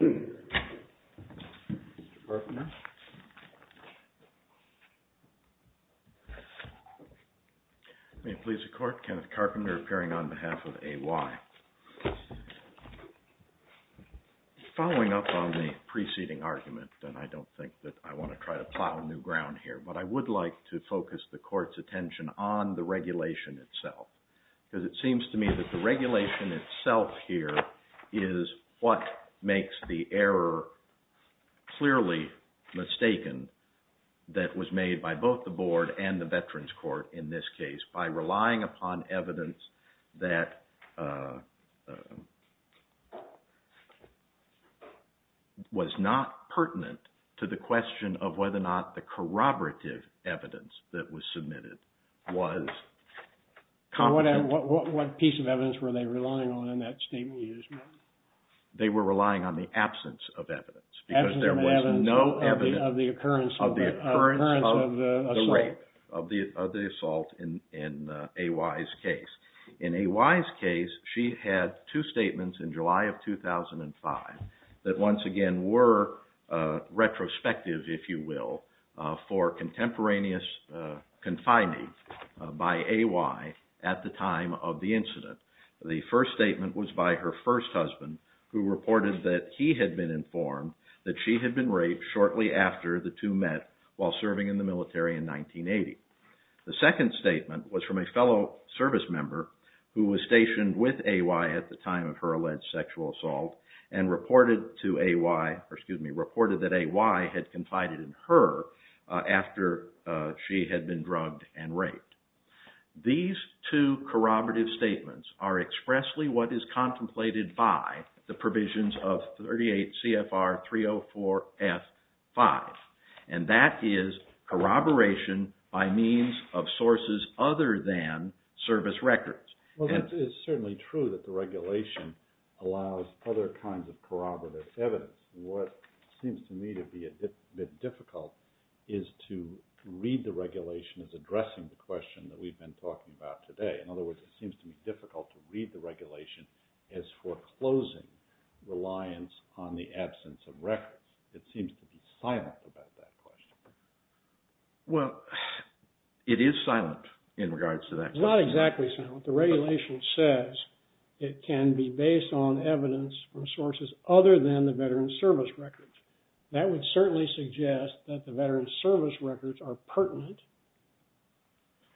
Mr. Carpenter. May it please the Court, Kenneth Carpenter appearing on behalf of AY. Following up on the preceding argument, and I don't think that I want to try to plow new ground here, but I would like to focus the Court's attention on the regulation itself. Because it seems to me that the regulation itself here is what makes the error clearly mistaken that was made by both the Board and the Veterans Court in this case by relying upon evidence that was not pertinent to the question of whether or not the corroborative evidence that was submitted was competent. So what piece of evidence were they relying on in that statement you just made? They were relying on the absence of evidence because there was no evidence of the occurrence of the assault in AY's case. In AY's case, she had two statements in July of 2005 that once again were retrospective, if you will, for contemporaneous confining by AY at the time of the incident. The first statement was by her first husband, who reported that he had been informed that she had been raped shortly after the two met while serving in the military in 1980. The second statement was from a fellow service member who was stationed with AY at the time of her alleged sexual assault and reported that AY had confided in her after she had been drugged and raped. These two corroborative statements are expressly what is contemplated by the provisions of 38 CFR 304F5, and that is corroboration by means of sources other than service records. Well, that is certainly true that the regulation allows other kinds of corroborative evidence. What seems to me to be a bit difficult is to read the regulation as addressing the question that we've been talking about today. In other words, it seems to be difficult to read the regulation as foreclosing reliance on the absence of records. It seems to be silent about that question. Well, it is silent in regards to that question. It's not exactly silent. The regulation says it can be based on evidence from sources other than the veteran's service records. That would certainly suggest that the veteran's service records are pertinent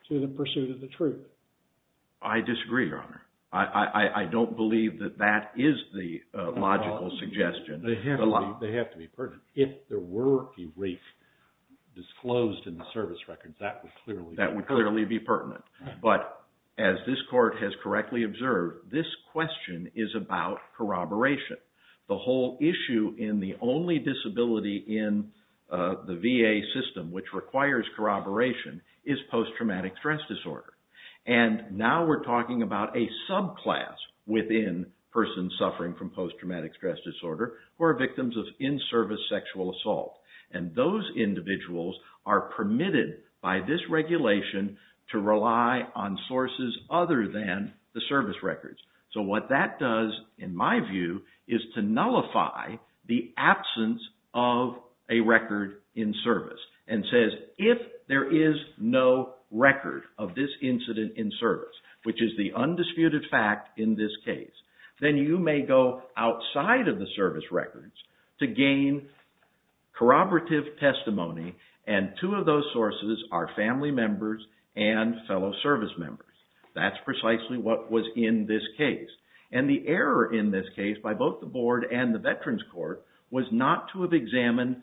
to the pursuit of the truth. I disagree, Your Honor. I don't believe that that is the logical suggestion. They have to be pertinent. If there were a rape disclosed in the service records, that would clearly be pertinent. That would clearly be pertinent. But as this Court has correctly observed, this question is about corroboration. The whole issue in the only disability in the VA system which requires corroboration is post-traumatic stress disorder. Now we're talking about a subclass within persons suffering from post-traumatic stress disorder who are victims of in-service sexual assault. Those individuals are permitted by this regulation to rely on sources other than the service records. What that does, in my view, is to nullify the absence of a record in service. If there is no record of this incident in service, which is the undisputed fact in this case, then you may go outside of the service records to gain corroborative testimony, and two of those sources are family members and fellow service members. That's precisely what was in this case. And the error in this case by both the Board and the Veterans Court was not to have examined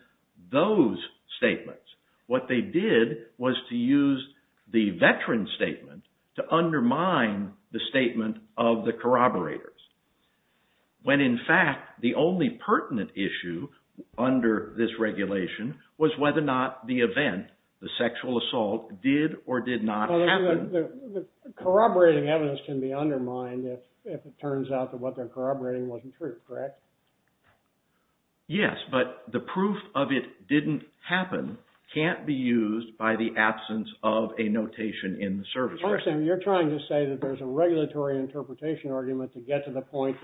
those statements. What they did was to use the veterans' statement to undermine the statement of the corroborators, when in fact the only pertinent issue under this regulation was whether or not the event, the sexual assault, did or did not happen. Corroborating evidence can be undermined if it turns out that what they're corroborating wasn't true, correct? Yes, but the proof of it didn't happen can't be used by the absence of a notation in the service records. I understand. You're trying to say that there's a regulatory interpretation argument to get to the point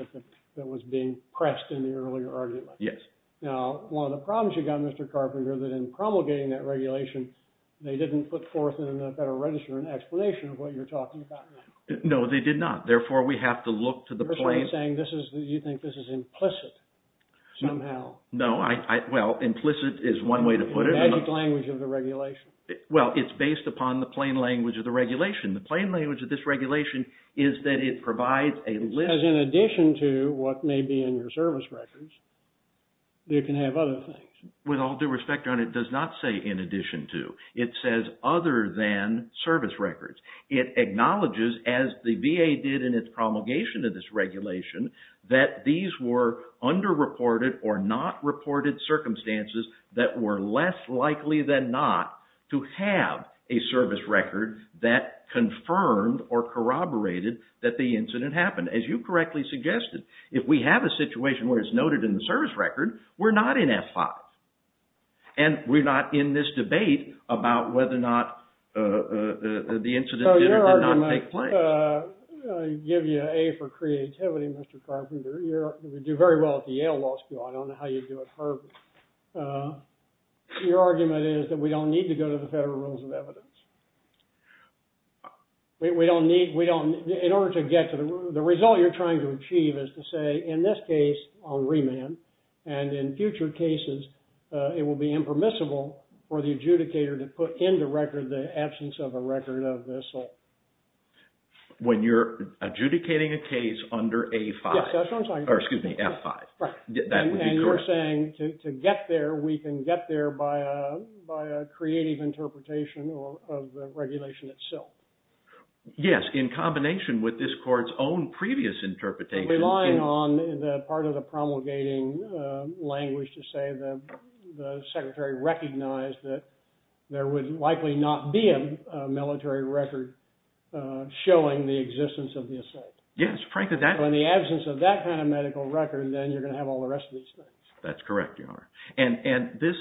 that was being pressed in the earlier argument. Yes. Now, one of the problems you've got, Mr. Carpenter, is that in promulgating that regulation, they didn't put forth in the Federal Register an explanation of what you're talking about. No, they did not. Therefore, we have to look to the plain... You're sort of saying you think this is implicit somehow. No, well, implicit is one way to put it. The magic language of the regulation. Well, it's based upon the plain language of the regulation. The plain language of this regulation is that it provides a list... Because in addition to what may be in your service records, you can have other things. With all due respect, Your Honor, it does not say in addition to. It says other than service records. It acknowledges, as the VA did in its promulgation of this regulation, that these were underreported or not reported circumstances that were less likely than not to have a service record that confirmed or corroborated that the incident happened. And as you correctly suggested, if we have a situation where it's noted in the service record, we're not in F-5. And we're not in this debate about whether or not the incident did or did not take place. I give you an A for creativity, Mr. Carpenter. You do very well at the Yale Law School. I don't know how you do at Harvard. Your argument is that we don't need to go to the Federal Rules of Evidence. We don't need... In order to get to the... The result you're trying to achieve is to say, in this case, on remand, and in future cases, it will be impermissible for the adjudicator to put into record the absence of a record of assault. When you're adjudicating a case under A-5? Yes, that's what I'm saying. Or excuse me, F-5. Right. That would be correct. So you're saying to get there, we can get there by a creative interpretation of the regulation itself. Yes, in combination with this court's own previous interpretation. Relying on part of the promulgating language to say the secretary recognized that there would likely not be a military record showing the existence of the assault. Yes, frankly, that... That's correct, Your Honor. And this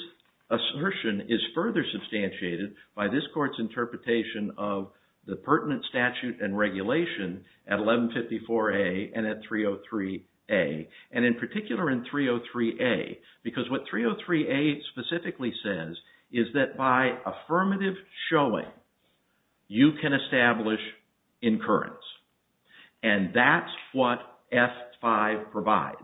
assertion is further substantiated by this court's interpretation of the pertinent statute and regulation at 1154A and at 303A. And in particular in 303A, because what 303A specifically says is that by affirmative showing, you can establish incurrence. And that's what F-5 provides.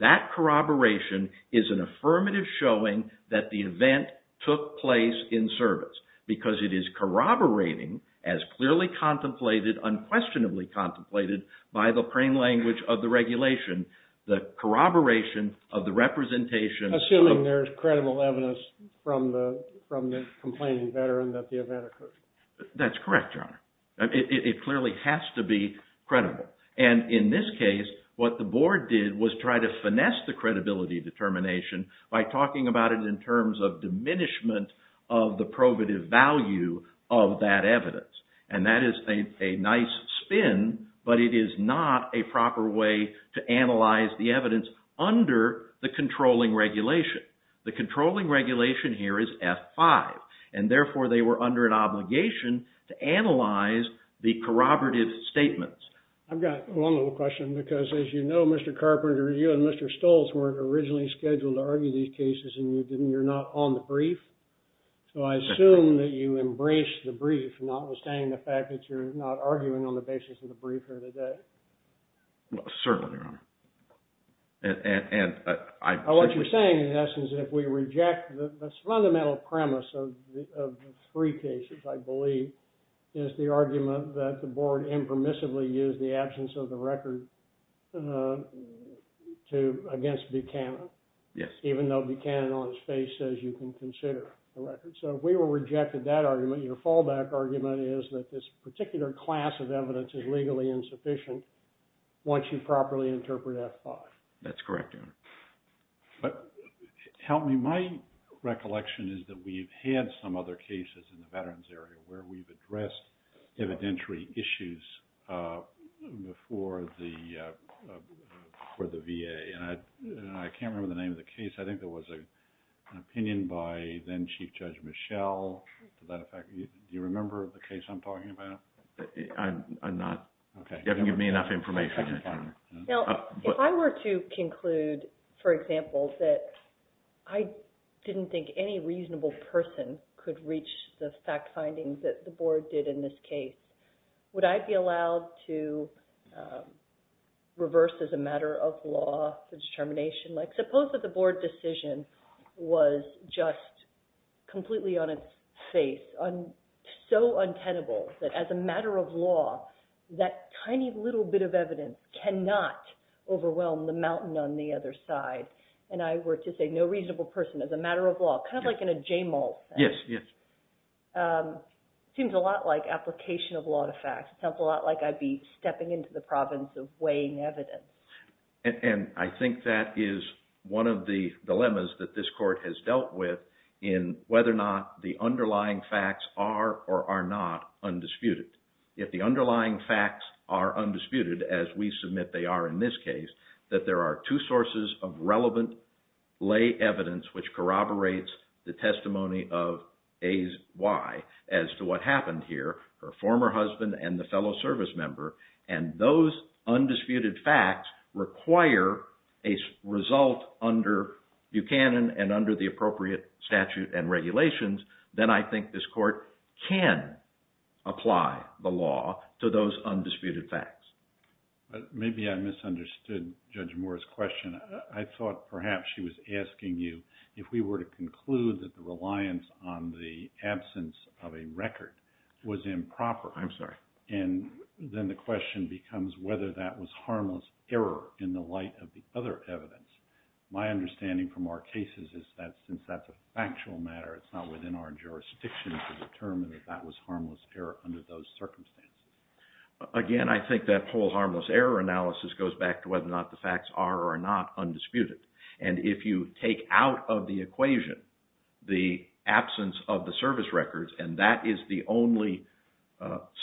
That corroboration is an affirmative showing that the event took place in service. Because it is corroborating, as clearly contemplated, unquestionably contemplated by the plain language of the regulation, the corroboration of the representation... Assuming there's credible evidence from the complaining veteran that the event occurred. That's correct, Your Honor. It clearly has to be credible. And in this case, what the board did was try to finesse the credibility determination by talking about it in terms of diminishment of the probative value of that evidence. And that is a nice spin, but it is not a proper way to analyze the evidence under the controlling regulation. The controlling regulation here is F-5. And therefore, they were under an obligation to analyze the corroborative statements. I've got one little question, because as you know, Mr. Carpenter, you and Mr. Stoltz weren't originally scheduled to argue these cases, and you're not on the brief. So I assume that you embraced the brief, notwithstanding the fact that you're not arguing on the basis of the brief here today. Certainly, Your Honor. What you're saying, in essence, if we reject the fundamental premise of the three cases, I believe, is the argument that the board impermissibly used the absence of the record against Buchanan. Yes. Even though Buchanan on his face says you can consider the record. So if we were to reject that argument, your fallback argument is that this particular class of evidence is legally insufficient once you properly interpret F-5. That's correct, Your Honor. But help me, my recollection is that we've had some other cases in the veterans area where we've addressed evidentiary issues before the VA. I can't remember the name of the case. I think there was an opinion by then Chief Judge Michel. To that effect, do you remember the case I'm talking about? I'm not. Now, if I were to conclude, for example, that I didn't think any reasonable person could reach the fact findings that the board did in this case, would I be allowed to reverse as a matter of law the determination? Like suppose that the board decision was just completely on its face, so untenable that as a matter of law, that tiny little bit of evidence cannot overwhelm the mountain on the other side. And I were to say no reasonable person as a matter of law, kind of like in a J-mall thing. Yes, yes. It seems a lot like application of law to facts. It sounds a lot like I'd be stepping into the province of weighing evidence. And I think that is one of the dilemmas that this court has dealt with in whether or not the underlying facts are or are not undisputed. If the underlying facts are undisputed, as we submit they are in this case, that there are two sources of relevant lay evidence which corroborates the testimony of A's why as to what happened here, her former husband and the fellow service member. And those undisputed facts require a result under Buchanan and under the appropriate statute and regulations, then I think this court can apply the law to those undisputed facts. Maybe I misunderstood Judge Moore's question. I thought perhaps she was asking you if we were to conclude that the reliance on the absence of a record was improper. I'm sorry. And then the question becomes whether that was harmless error in the light of the other evidence. My understanding from our cases is that since that's a factual matter, it's not within our jurisdiction to determine that that was harmless error under those circumstances. Again, I think that whole harmless error analysis goes back to whether or not the facts are or are not undisputed. And if you take out of the equation the absence of the service records and that is the only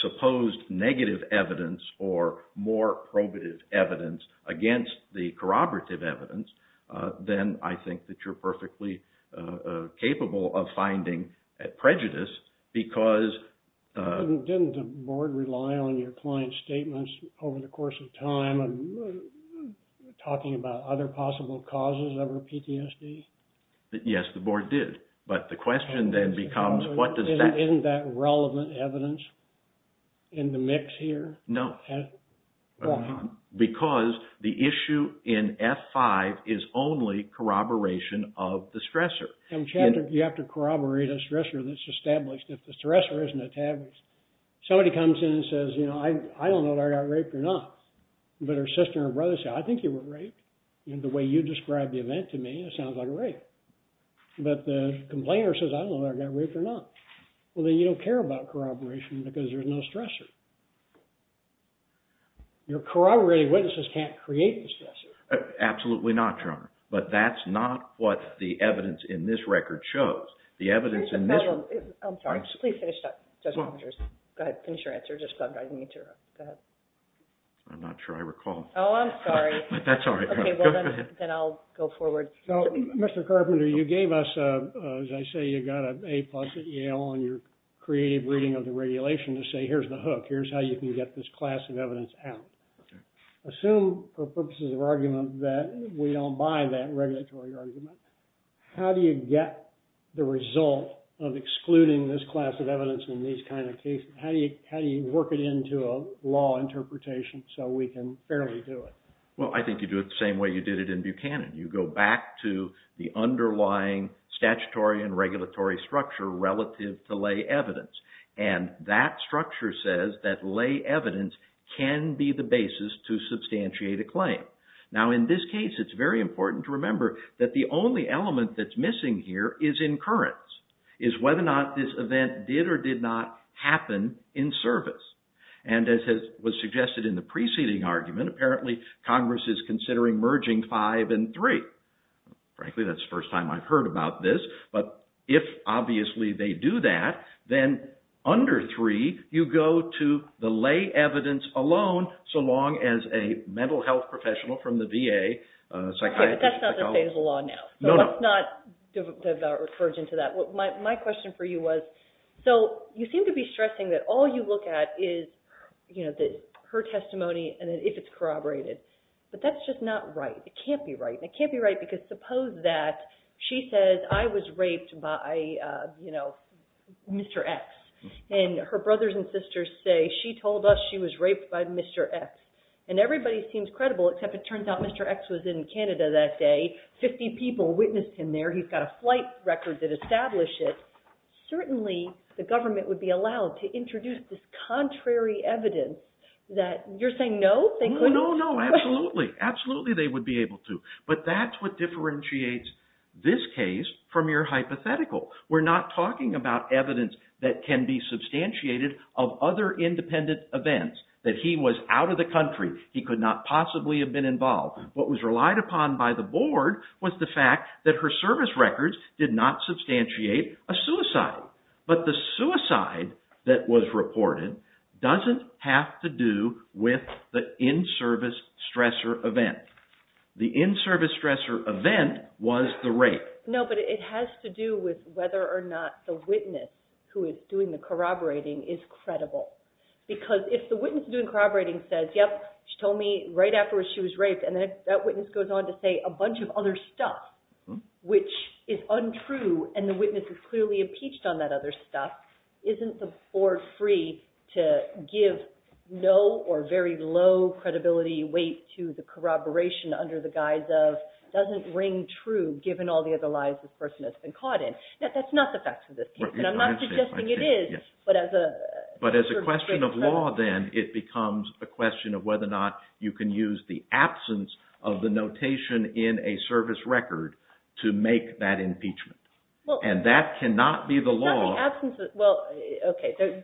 supposed negative evidence or more probative evidence against the corroborative evidence, then I think that you're perfectly capable of finding prejudice because… Didn't the board rely on your client's statements over the course of time and talking about other possible causes of her PTSD? Yes, the board did. But the question then becomes what does that… Isn't that relevant evidence in the mix here? No. Why? Because the issue in F-5 is only corroboration of the stressor. You have to corroborate a stressor that's established. If the stressor isn't established, somebody comes in and says, you know, I don't know if I got raped or not. But her sister and brother say, I think you were raped. And the way you described the event to me, it sounds like a rape. But the complainer says, I don't know if I got raped or not. Well, then you don't care about corroboration because there's no stressor. Your corroborating witnesses can't create the stressor. Absolutely not, Your Honor. But that's not what the evidence in this record shows. The evidence in this… I'm sorry. Just please finish that, Judge Carpenter. Go ahead. Finish your answer. I didn't mean to interrupt. Go ahead. I'm not sure I recall. Oh, I'm sorry. That's all right. Then I'll go forward. So, Mr. Carpenter, you gave us, as I say, you got an A plus at Yale on your creative reading of the regulation to say here's the hook. Here's how you can get this class of evidence out. Okay. Assume, for purposes of argument, that we don't buy that regulatory argument. How do you get the result of excluding this class of evidence in these kind of cases? How do you work it into a law interpretation so we can fairly do it? Well, I think you do it the same way you did it in Buchanan. You go back to the underlying statutory and regulatory structure relative to lay evidence. And that structure says that lay evidence can be the basis to substantiate a claim. Now, in this case, it's very important to remember that the only element that's missing here is incurrence, is whether or not this event did or did not happen in service. And as was suggested in the preceding argument, apparently Congress is considering merging five and three. Frankly, that's the first time I've heard about this. But if, obviously, they do that, then under three, you go to the lay evidence alone, so long as a mental health professional from the VA, a psychiatrist. Okay, but that's not the state of the law now. No, no. So let's not diverge into that. My question for you was, so you seem to be stressing that all you look at is her testimony and if it's corroborated. But that's just not right. It can't be right. And it can't be right because suppose that she says, I was raped by, you know, Mr. X. And her brothers and sisters say, she told us she was raped by Mr. X. And everybody seems credible except it turns out Mr. X was in Canada that day. Fifty people witnessed him there. He's got a flight record that established it. Certainly, the government would be allowed to introduce this contrary evidence that you're saying no? No, no, absolutely. Absolutely, they would be able to. But that's what differentiates this case from your hypothetical. We're not talking about evidence that can be substantiated of other independent events. That he was out of the country. He could not possibly have been involved. What was relied upon by the board was the fact that her service records did not substantiate a suicide. But the suicide that was reported doesn't have to do with the in-service stressor event. The in-service stressor event was the rape. No, but it has to do with whether or not the witness who is doing the corroborating is credible. Because if the witness doing the corroborating says, yep, she told me right after she was raped, and that witness goes on to say a bunch of other stuff which is untrue, and the witness is clearly impeached on that other stuff, isn't the board free to give no or very low credibility weight to the corroboration under the guise of doesn't ring true given all the other lies this person has been caught in? That's not the facts of this case, and I'm not suggesting it is. But as a question of law, then, it becomes a question of whether or not you can use the absence of the notation in a service record to make that impeachment. And that cannot be the law. Well, okay.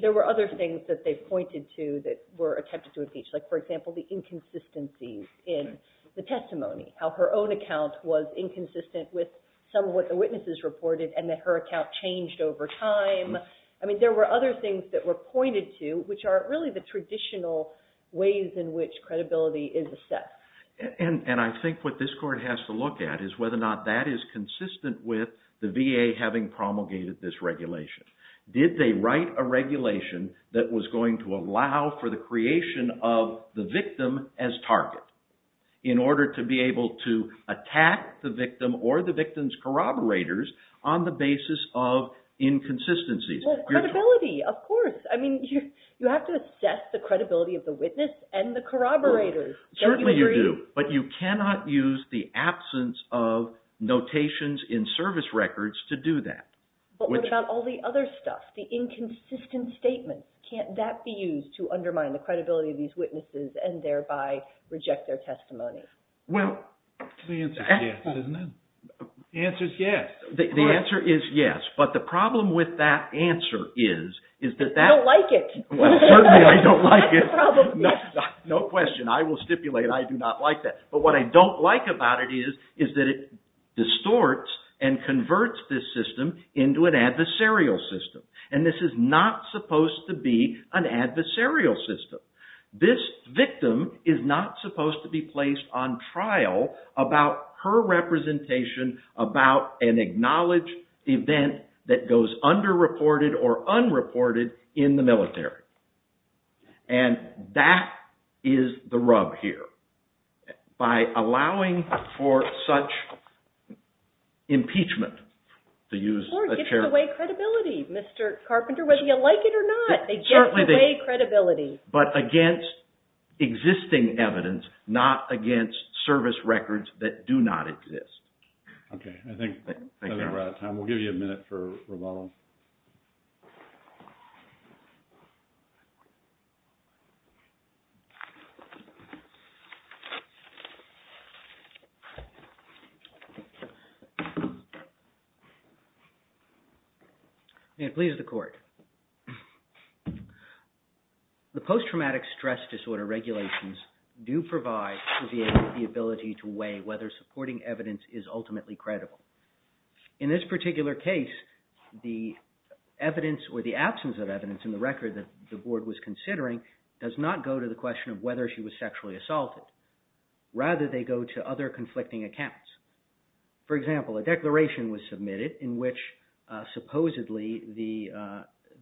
There were other things that they pointed to that were attempted to impeach, like, for example, the inconsistency in the testimony, how her own account was inconsistent with some of what the witnesses reported, and that her account changed over time. I mean, there were other things that were pointed to which are really the traditional ways in which credibility is assessed. And I think what this court has to look at is whether or not that is consistent with the VA having promulgated this regulation. Did they write a regulation that was going to allow for the creation of the victim as target in order to be able to attack the victim or the victim's corroborators on the basis of inconsistencies? Well, credibility, of course. I mean, you have to assess the credibility of the witness and the corroborators. Don't you agree? Certainly you do, but you cannot use the absence of notations in service records to do that. But what about all the other stuff, the inconsistent statements? Can't that be used to undermine the credibility of these witnesses and thereby reject their testimony? Well, the answer is yes, isn't it? The answer is yes. The answer is yes, but the problem with that answer is, is that that- You don't like it. Well, certainly I don't like it. That's the problem. No question. I will stipulate I do not like that. But what I don't like about it is, is that it distorts and converts this system into an adversarial system. And this is not supposed to be an adversarial system. This victim is not supposed to be placed on trial about her representation about an acknowledged event that goes underreported or unreported in the military. And that is the rub here. By allowing for such impeachment to use- They get away credibility, Mr. Carpenter, whether you like it or not. They get away credibility. But against existing evidence, not against service records that do not exist. Okay. I think we're out of time. We'll give you a minute for rebuttal. May it please the court. The post-traumatic stress disorder regulations do provide the ability to weigh whether supporting evidence is ultimately credible. In this particular case, the evidence or the absence of evidence in the record that the board was considering does not go to the question of whether she was sexually assaulted. Rather, they go to other conflicting accounts. For example, a declaration was submitted in which supposedly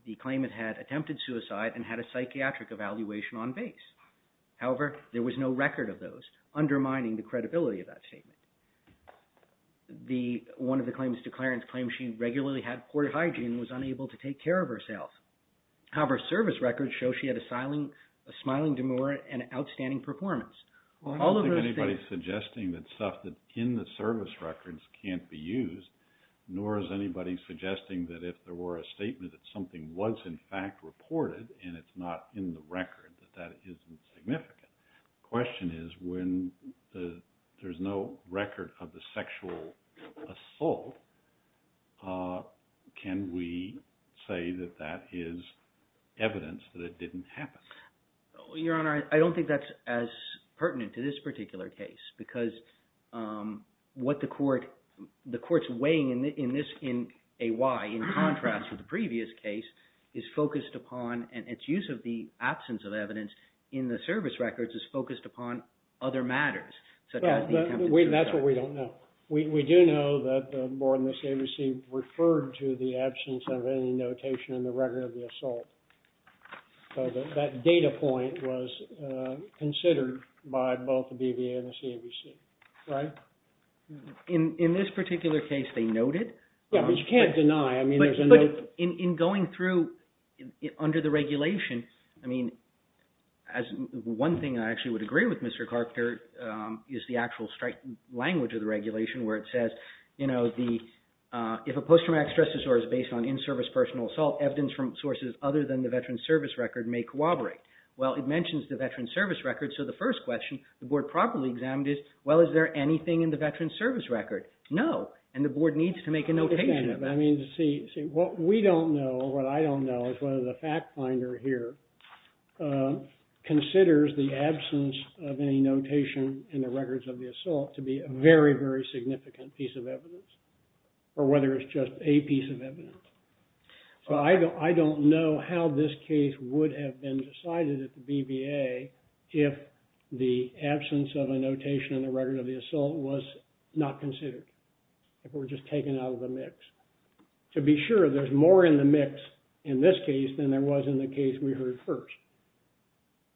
the claimant had attempted suicide and had a psychiatric evaluation on base. However, there was no record of those, undermining the credibility of that statement. One of the claimants' declarants claimed she regularly had poor hygiene and was unable to take care of herself. However, service records show she had a smiling demure and outstanding performance. Well, I don't think anybody's suggesting that stuff that's in the service records can't be used, nor is anybody suggesting that if there were a statement that something was, in fact, reported and it's not in the record, that that isn't significant. The question is when there's no record of the sexual assault, can we say that that is evidence that it didn't happen? Your Honor, I don't think that's as pertinent to this particular case because what the court's weighing in this A-Y, in contrast to the previous case, is focused upon and its use of the absence of evidence in the service records is focused upon other matters. That's what we don't know. We do know that the board in this agency referred to the absence of any notation in the record of the assault. So that data point was considered by both the BVA and the CABC, right? In this particular case, they noted? Yeah, but you can't deny. But in going through under the regulation, I mean, one thing I actually would agree with Mr. Carpenter is the actual language of the regulation where it says, you know, if a post-traumatic stress disorder is based on in-service personal assault, evidence from sources other than the veteran's service record may corroborate. Well, it mentions the veteran's service record, so the first question the board probably examined is, well, is there anything in the veteran's service record? No. And the board needs to make a notation of it. I mean, see, what we don't know, what I don't know, is whether the fact finder here considers the absence of any notation in the records of the assault to be a very, very significant piece of evidence or whether it's just a piece of evidence. So I don't know how this case would have been decided at the BVA if the absence of a notation in the record of the assault was not considered, if it were just taken out of the mix. To be sure, there's more in the mix in this case than there was in the case we heard first.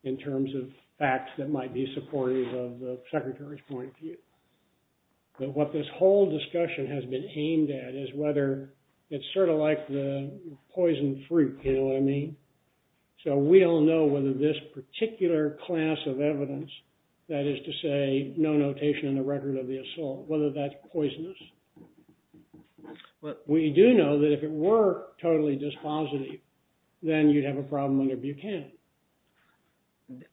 In terms of facts that might be supportive of the secretary's point of view. But what this whole discussion has been aimed at is whether it's sort of like the poison fruit, you know what I mean? So we don't know whether this particular class of evidence, that is to say, no notation in the record of the assault, whether that's poisonous. But we do know that if it were totally dispositive, then you'd have a problem under Buchanan.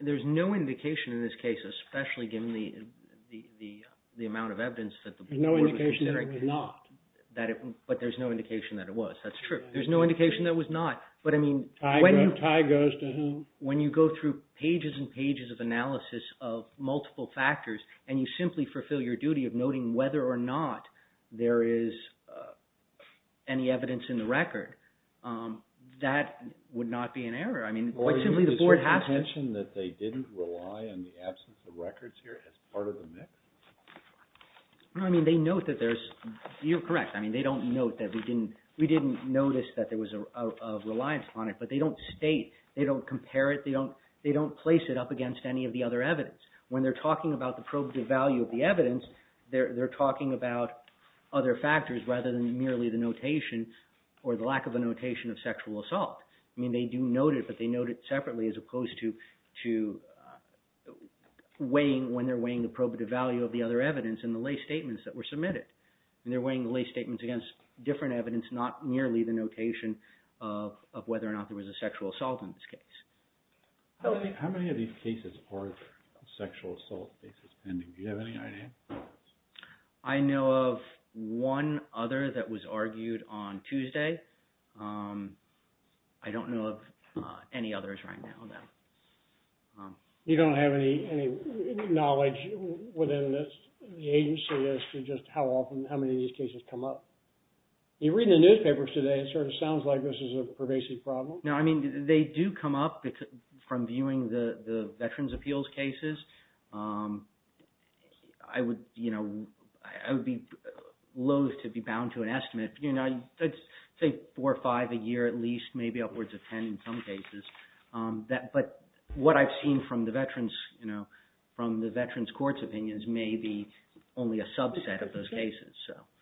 There's no indication in this case, especially given the amount of evidence that the board was considering. There's no indication that it was not. But there's no indication that it was, that's true. There's no indication that it was not. But I mean, when you go through pages and pages of analysis of multiple factors and you simply fulfill your duty of noting whether or not there is any evidence in the record, that would not be an error. I mean, quite simply, the board has to... Well, did you mention that they didn't rely on the absence of records here as part of the mix? No, I mean, they note that there's, you're correct. I mean, they don't note that we didn't notice that there was a reliance on it. But they don't state, they don't compare it, they don't place it up against any of the other evidence. When they're talking about the probative value of the evidence, they're talking about other factors rather than merely the notation or the lack of a notation of sexual assault. I mean, they do note it, but they note it separately as opposed to weighing, when they're weighing the probative value of the other evidence and the lay statements that were submitted. And they're weighing the lay statements against different evidence, not merely the notation of whether or not there was a sexual assault in this case. How many of these cases are sexual assault cases pending? Do you have any idea? I know of one other that was argued on Tuesday. I don't know of any others right now, no. You don't have any knowledge within the agency as to just how often, how many of these cases come up? You're reading the newspapers today, it sort of sounds like this is a pervasive problem. No, I mean, they do come up from viewing the Veterans' Appeals cases. I would, you know, I would be loathe to be bound to an estimate. You know, I'd say four or five a year at least, maybe upwards of ten in some cases. But what I've seen from the Veterans, you know, from the Veterans' Courts opinions may be only a subset of those cases.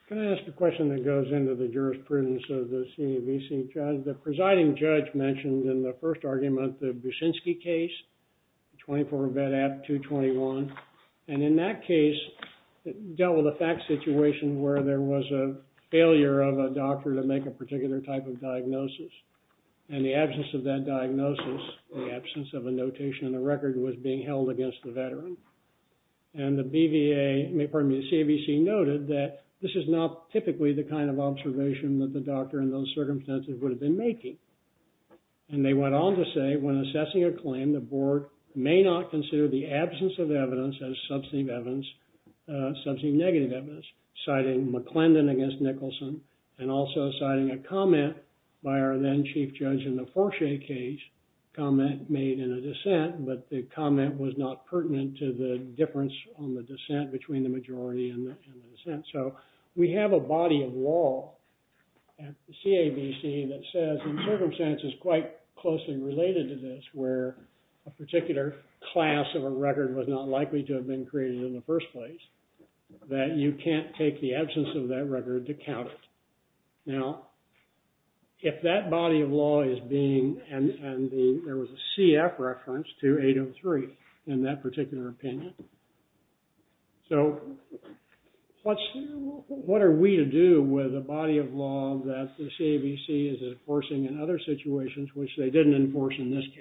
Can I ask a question that goes into the jurisprudence of the CAVC judge? The presiding judge mentioned in the first argument the Buczynski case, 24 Vet Ab 221. And in that case, it dealt with a fact situation where there was a failure of a doctor to make a particular type of diagnosis. And the absence of that diagnosis, the absence of a notation in the record was being held against the veteran. And the BVA, pardon me, the CAVC noted that this is not typically the kind of observation that the doctor in those circumstances would have been making. And they went on to say, when assessing a claim, the board may not consider the absence of evidence as substantive evidence, substantive negative evidence, citing McClendon against Nicholson, and also citing a comment by our then chief judge in the Forshay case, a comment made in a dissent, but the comment was not pertinent to the difference on the dissent between the majority and the dissent. So we have a body of law at the CAVC that says, in circumstances quite closely related to this, where a particular class of a record was not likely to have been created in the first place, that you can't take the absence of that record to count it. Now, if that body of law is being, and there was a CF reference to 803 in that particular opinion, so what are we to do with a body of law that the CAVC is enforcing in other situations which they didn't enforce in this case?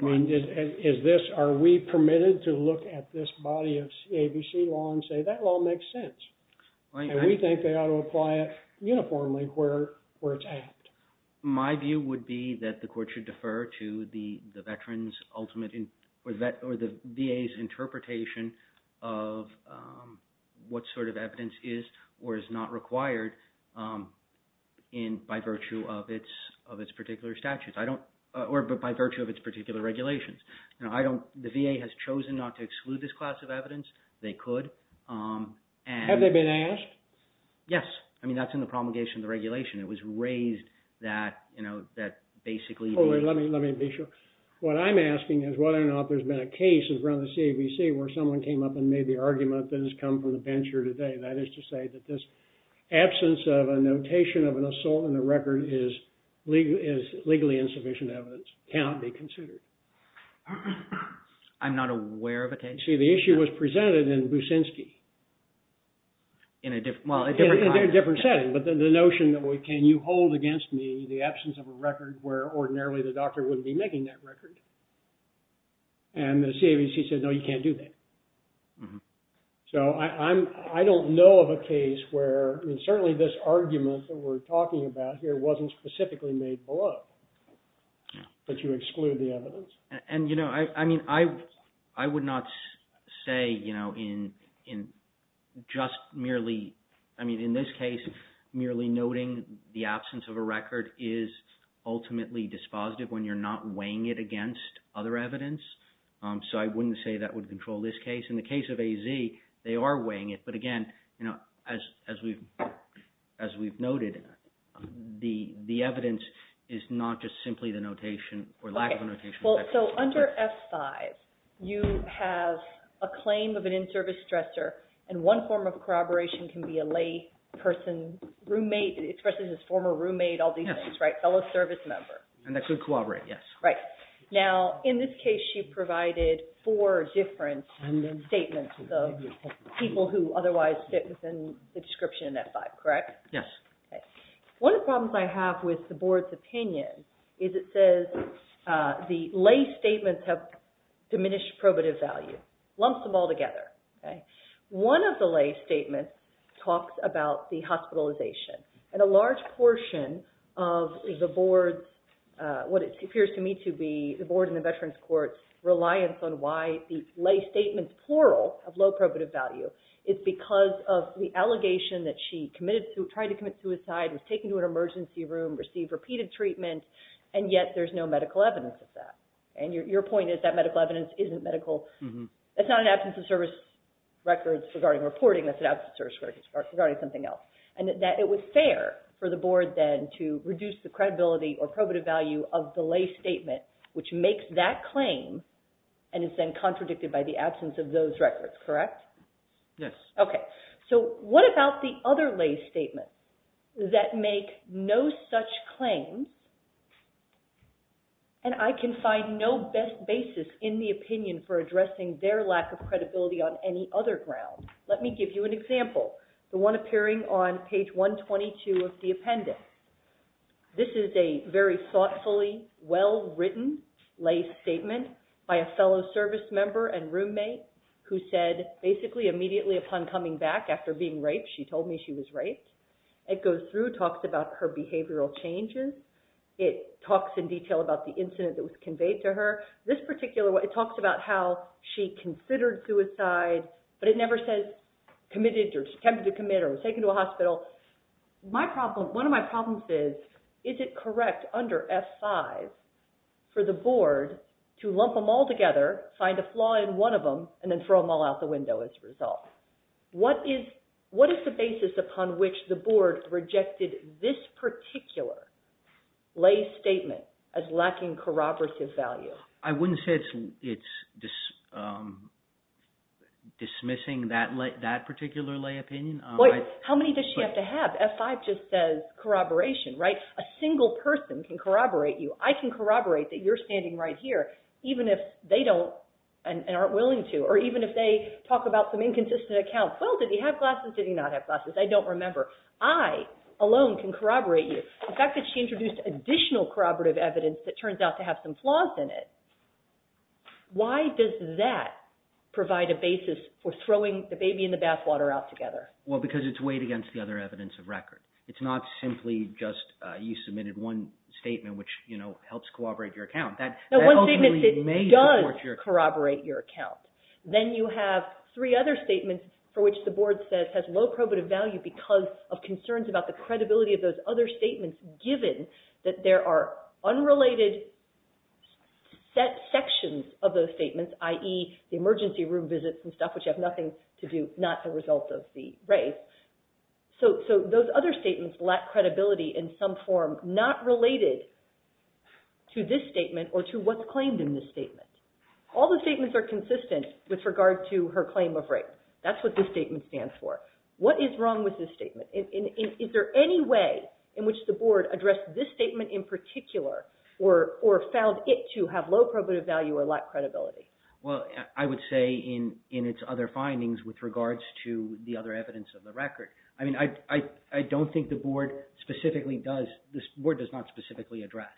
And is this, are we permitted to look at this body of CAVC law and say, that law makes sense? And we think they ought to apply it uniformly where it's apt. My view would be that the court should defer to the veteran's ultimate, or the VA's interpretation of what sort of evidence is or is not required by virtue of its particular statutes, or by virtue of its particular regulations. The VA has chosen not to exclude this class of evidence. They could. Have they been asked? Yes. I mean, that's in the promulgation of the regulation. It was raised that, you know, that basically... Let me be sure. What I'm asking is whether or not there's been a case around the CAVC where someone came up and made the argument that has come from the bench here today, that is to say that this absence of a notation of an assault on the record is legally insufficient evidence, cannot be considered. I'm not aware of a case... See, the issue was presented in Buszynski. In a different... In a different setting. But the notion that, well, can you hold against me the absence of a record where ordinarily the doctor wouldn't be making that record? And the CAVC said, no, you can't do that. So I don't know of a case where... I mean, certainly this argument that we're talking about here wasn't specifically made below. But you exclude the evidence. And, you know, I mean, I would not say, you know, in just merely... I mean, in this case, merely noting the absence of a record is ultimately dispositive when you're not weighing it against other evidence. So I wouldn't say that would control this case. In the case of AZ, they are weighing it. But again, you know, as we've noted, the evidence is not just simply the notation or lack of a notation. So under F-5, you have a claim of an in-service dresser. And one form of corroboration can be a layperson, roommate, especially his former roommate, all these things, right? Fellow service member. And that could corroborate, yes. Right. Now, in this case, you provided four different statements of people who otherwise fit within the description in F-5, correct? Yes. Okay. One of the problems I have with the Board's opinion is it says the lay statements have diminished probative value. Lumps them all together, okay? One of the lay statements talks about the hospitalization. And a large portion of the Board's, what it appears to me to be, the Board and the Veterans Courts' reliance on why the lay statements, plural, have low probative value is because of the allegation that she committed to, was taken to an emergency room, received repeated treatment, and yet there's no medical evidence of that. And your point is that medical evidence isn't medical. That's not an absence of service records regarding reporting. That's an absence of service records regarding something else. And that it was fair for the Board then to reduce the credibility or probative value of the lay statement, which makes that claim and is then contradicted by the absence of those records, correct? Yes. Okay. So what about the other lay statement? That make no such claims, and I can find no best basis in the opinion for addressing their lack of credibility on any other ground. Let me give you an example. The one appearing on page 122 of the appendix. This is a very thoughtfully well-written lay statement by a fellow service member and roommate who said, basically immediately upon coming back after being raped, she told me she was raped. The other one in blue talks about her behavioral changes. It talks in detail about the incident that was conveyed to her. This particular one, it talks about how she considered suicide, but it never says committed or attempted to commit or was taken to a hospital. One of my problems is, is it correct under F5 for the Board to lump them all together, find a flaw in one of them, and then throw them all out the window as a result? What is the basis upon which the Board rejected this particular lay statement as lacking corroborative value? I wouldn't say it's dismissing that particular lay opinion. How many does she have to have? F5 just says corroboration, right? A single person can corroborate you. I can corroborate that you're standing right here, even if they don't and aren't willing to, or even if they talk about some inconsistent account. Well, did he have glasses? Did he not have glasses? I don't remember. I alone can corroborate you. The fact that she introduced additional corroborative evidence that turns out to have some flaws in it, why does that provide a basis for throwing the baby in the bathwater out together? Well, because it's weighed against the other evidence of record. It's not simply just you submitted one statement which helps corroborate your account. One statement that does corroborate your account. Then you have three other statements for which the Board says has low probative value because of concerns about the credibility of those other statements given that there are unrelated sections of those statements, i.e., the emergency room visits and stuff, which have nothing to do, not the result of the race. So those other statements lack credibility in some form not related to this statement or to what's claimed in this statement. All the statements are consistent with regard to her claim of rape. That's what this statement stands for. What is wrong with this statement? Is there any way in which the Board addressed this statement in particular or found it to have low probative value or lack credibility? Well, I would say in its other findings with regards to the other evidence of the record. I mean, I don't think the Board specifically does, the Board does not specifically address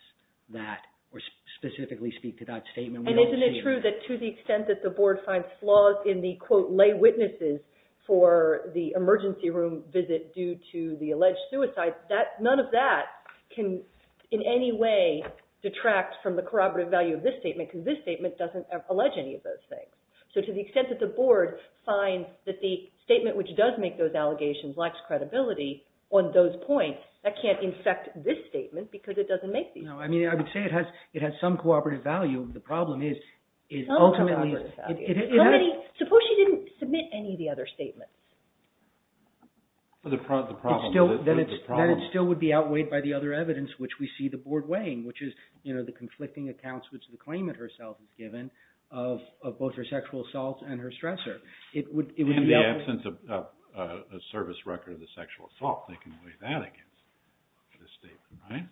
that or specifically speak to that statement. And isn't it true that to the extent that the Board finds flaws in the, quote, lay witnesses for the emergency room visit due to the alleged suicide, none of that can in any way detract from the corroborative value of this statement because this statement doesn't allege any of those things. So to the extent that the Board finds that the statement which does make those allegations lacks credibility on those points, that can't infect this statement because it doesn't make these points. No, I mean, I would say it has some cooperative value. The problem is, ultimately... Some cooperative value. Suppose she didn't submit any of the other statements. The problem is... Then it still would be outweighed by the other evidence which we see the Board weighing, which is the conflicting accounts which the claimant herself has given of both her sexual assault and her stressor. And the absence of a service record of the sexual assault. They can weigh that against this statement, right?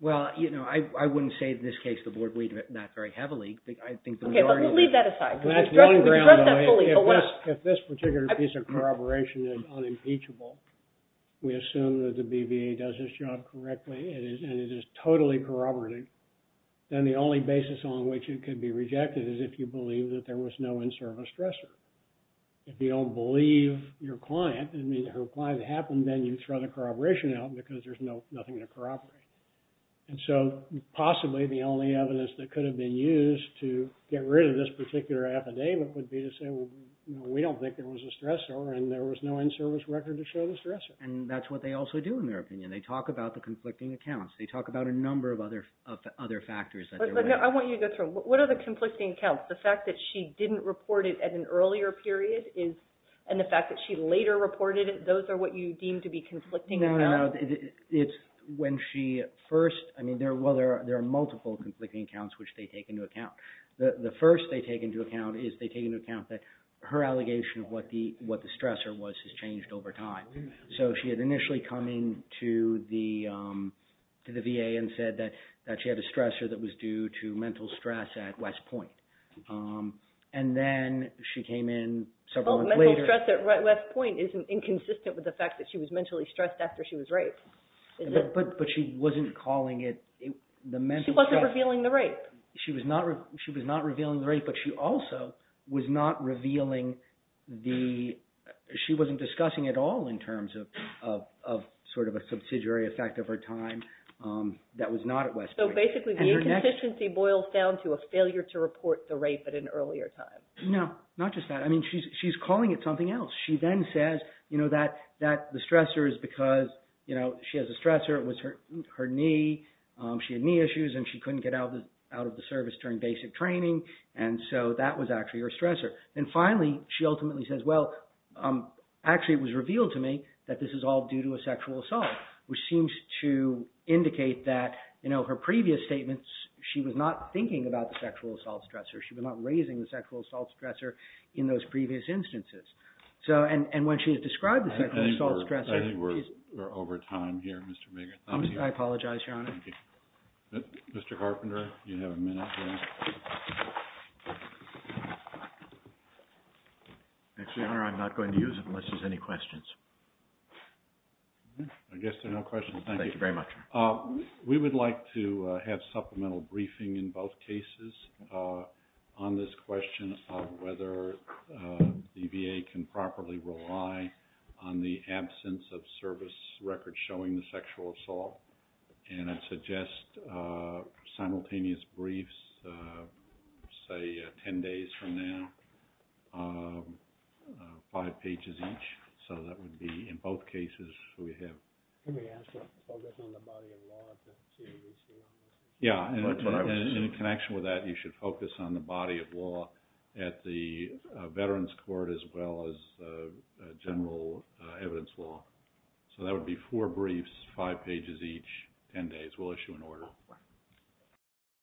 Well, you know, I wouldn't say in this case the Board weighed that very heavily. I think the majority... Okay, but we'll leave that aside. We've addressed that fully. If this particular piece of corroboration is unimpeachable, we assume that the BVA does its job correctly and it is totally corroborative, then the only basis on which it could be rejected is if you believe that there was no in-service stressor. If you don't believe your client... I mean, her client happened, then you throw the corroboration out because there's nothing to corroborate. And so possibly the only evidence that could have been used to get rid of this particular affidavit would be to say, well, we don't think there was a stressor and there was no in-service record to show the stressor. And that's what they also do in their opinion. They talk about the conflicting accounts. They talk about a number of other factors. I want you to go through. What are the conflicting accounts? Is it a one-year period? And the fact that she later reported it, those are what you deem to be conflicting accounts? No, no. It's when she first... Well, there are multiple conflicting accounts which they take into account. The first they take into account is they take into account that her allegation of what the stressor was has changed over time. So she had initially come in to the VA and said that she had a stressor that was due to mental stress at West Point. And then she came in several months later... Well, mental stress at West Point is inconsistent with the fact that she was mentally stressed after she was raped. But she wasn't calling it... She wasn't revealing the rape. She was not revealing the rape, but she also was not revealing the... She wasn't discussing at all in terms of sort of a subsidiary effect of her time that was not at West Point. So basically the inconsistency boils down to a failure to report the rape at an earlier time. No, not just that. She's calling it something else. She then says that the stressor is because she has a stressor. It was her knee. She had knee issues and she couldn't get out of the service during basic training, and so that was actually her stressor. And finally, she ultimately says, well, actually it was revealed to me that this is all due to a sexual assault, which seems to indicate that her previous statements, she was not thinking about the sexual assault stressor. She was not raising the sexual assault stressor in those previous instances. And when she has described the sexual assault stressor... I think we're over time here, Mr. Mager. I apologize, Your Honor. Mr. Carpenter, you have a minute. Actually, Your Honor, I'm not going to use it unless there's any questions. I guess there are no questions. Thank you. Thank you very much. We would like to have supplemental briefing in both cases on this question of whether the VA can properly rely on the absence of service records showing the sexual assault. And I'd suggest simultaneous briefs, say 10 days from now, five pages each. So that would be, in both cases, we have... We should focus on the body of law to see if we still have... Yeah, and in connection with that, you should focus on the body of law at the Veterans Court as well as general evidence law. So that would be four briefs, five pages each, 10 days. We'll issue an order.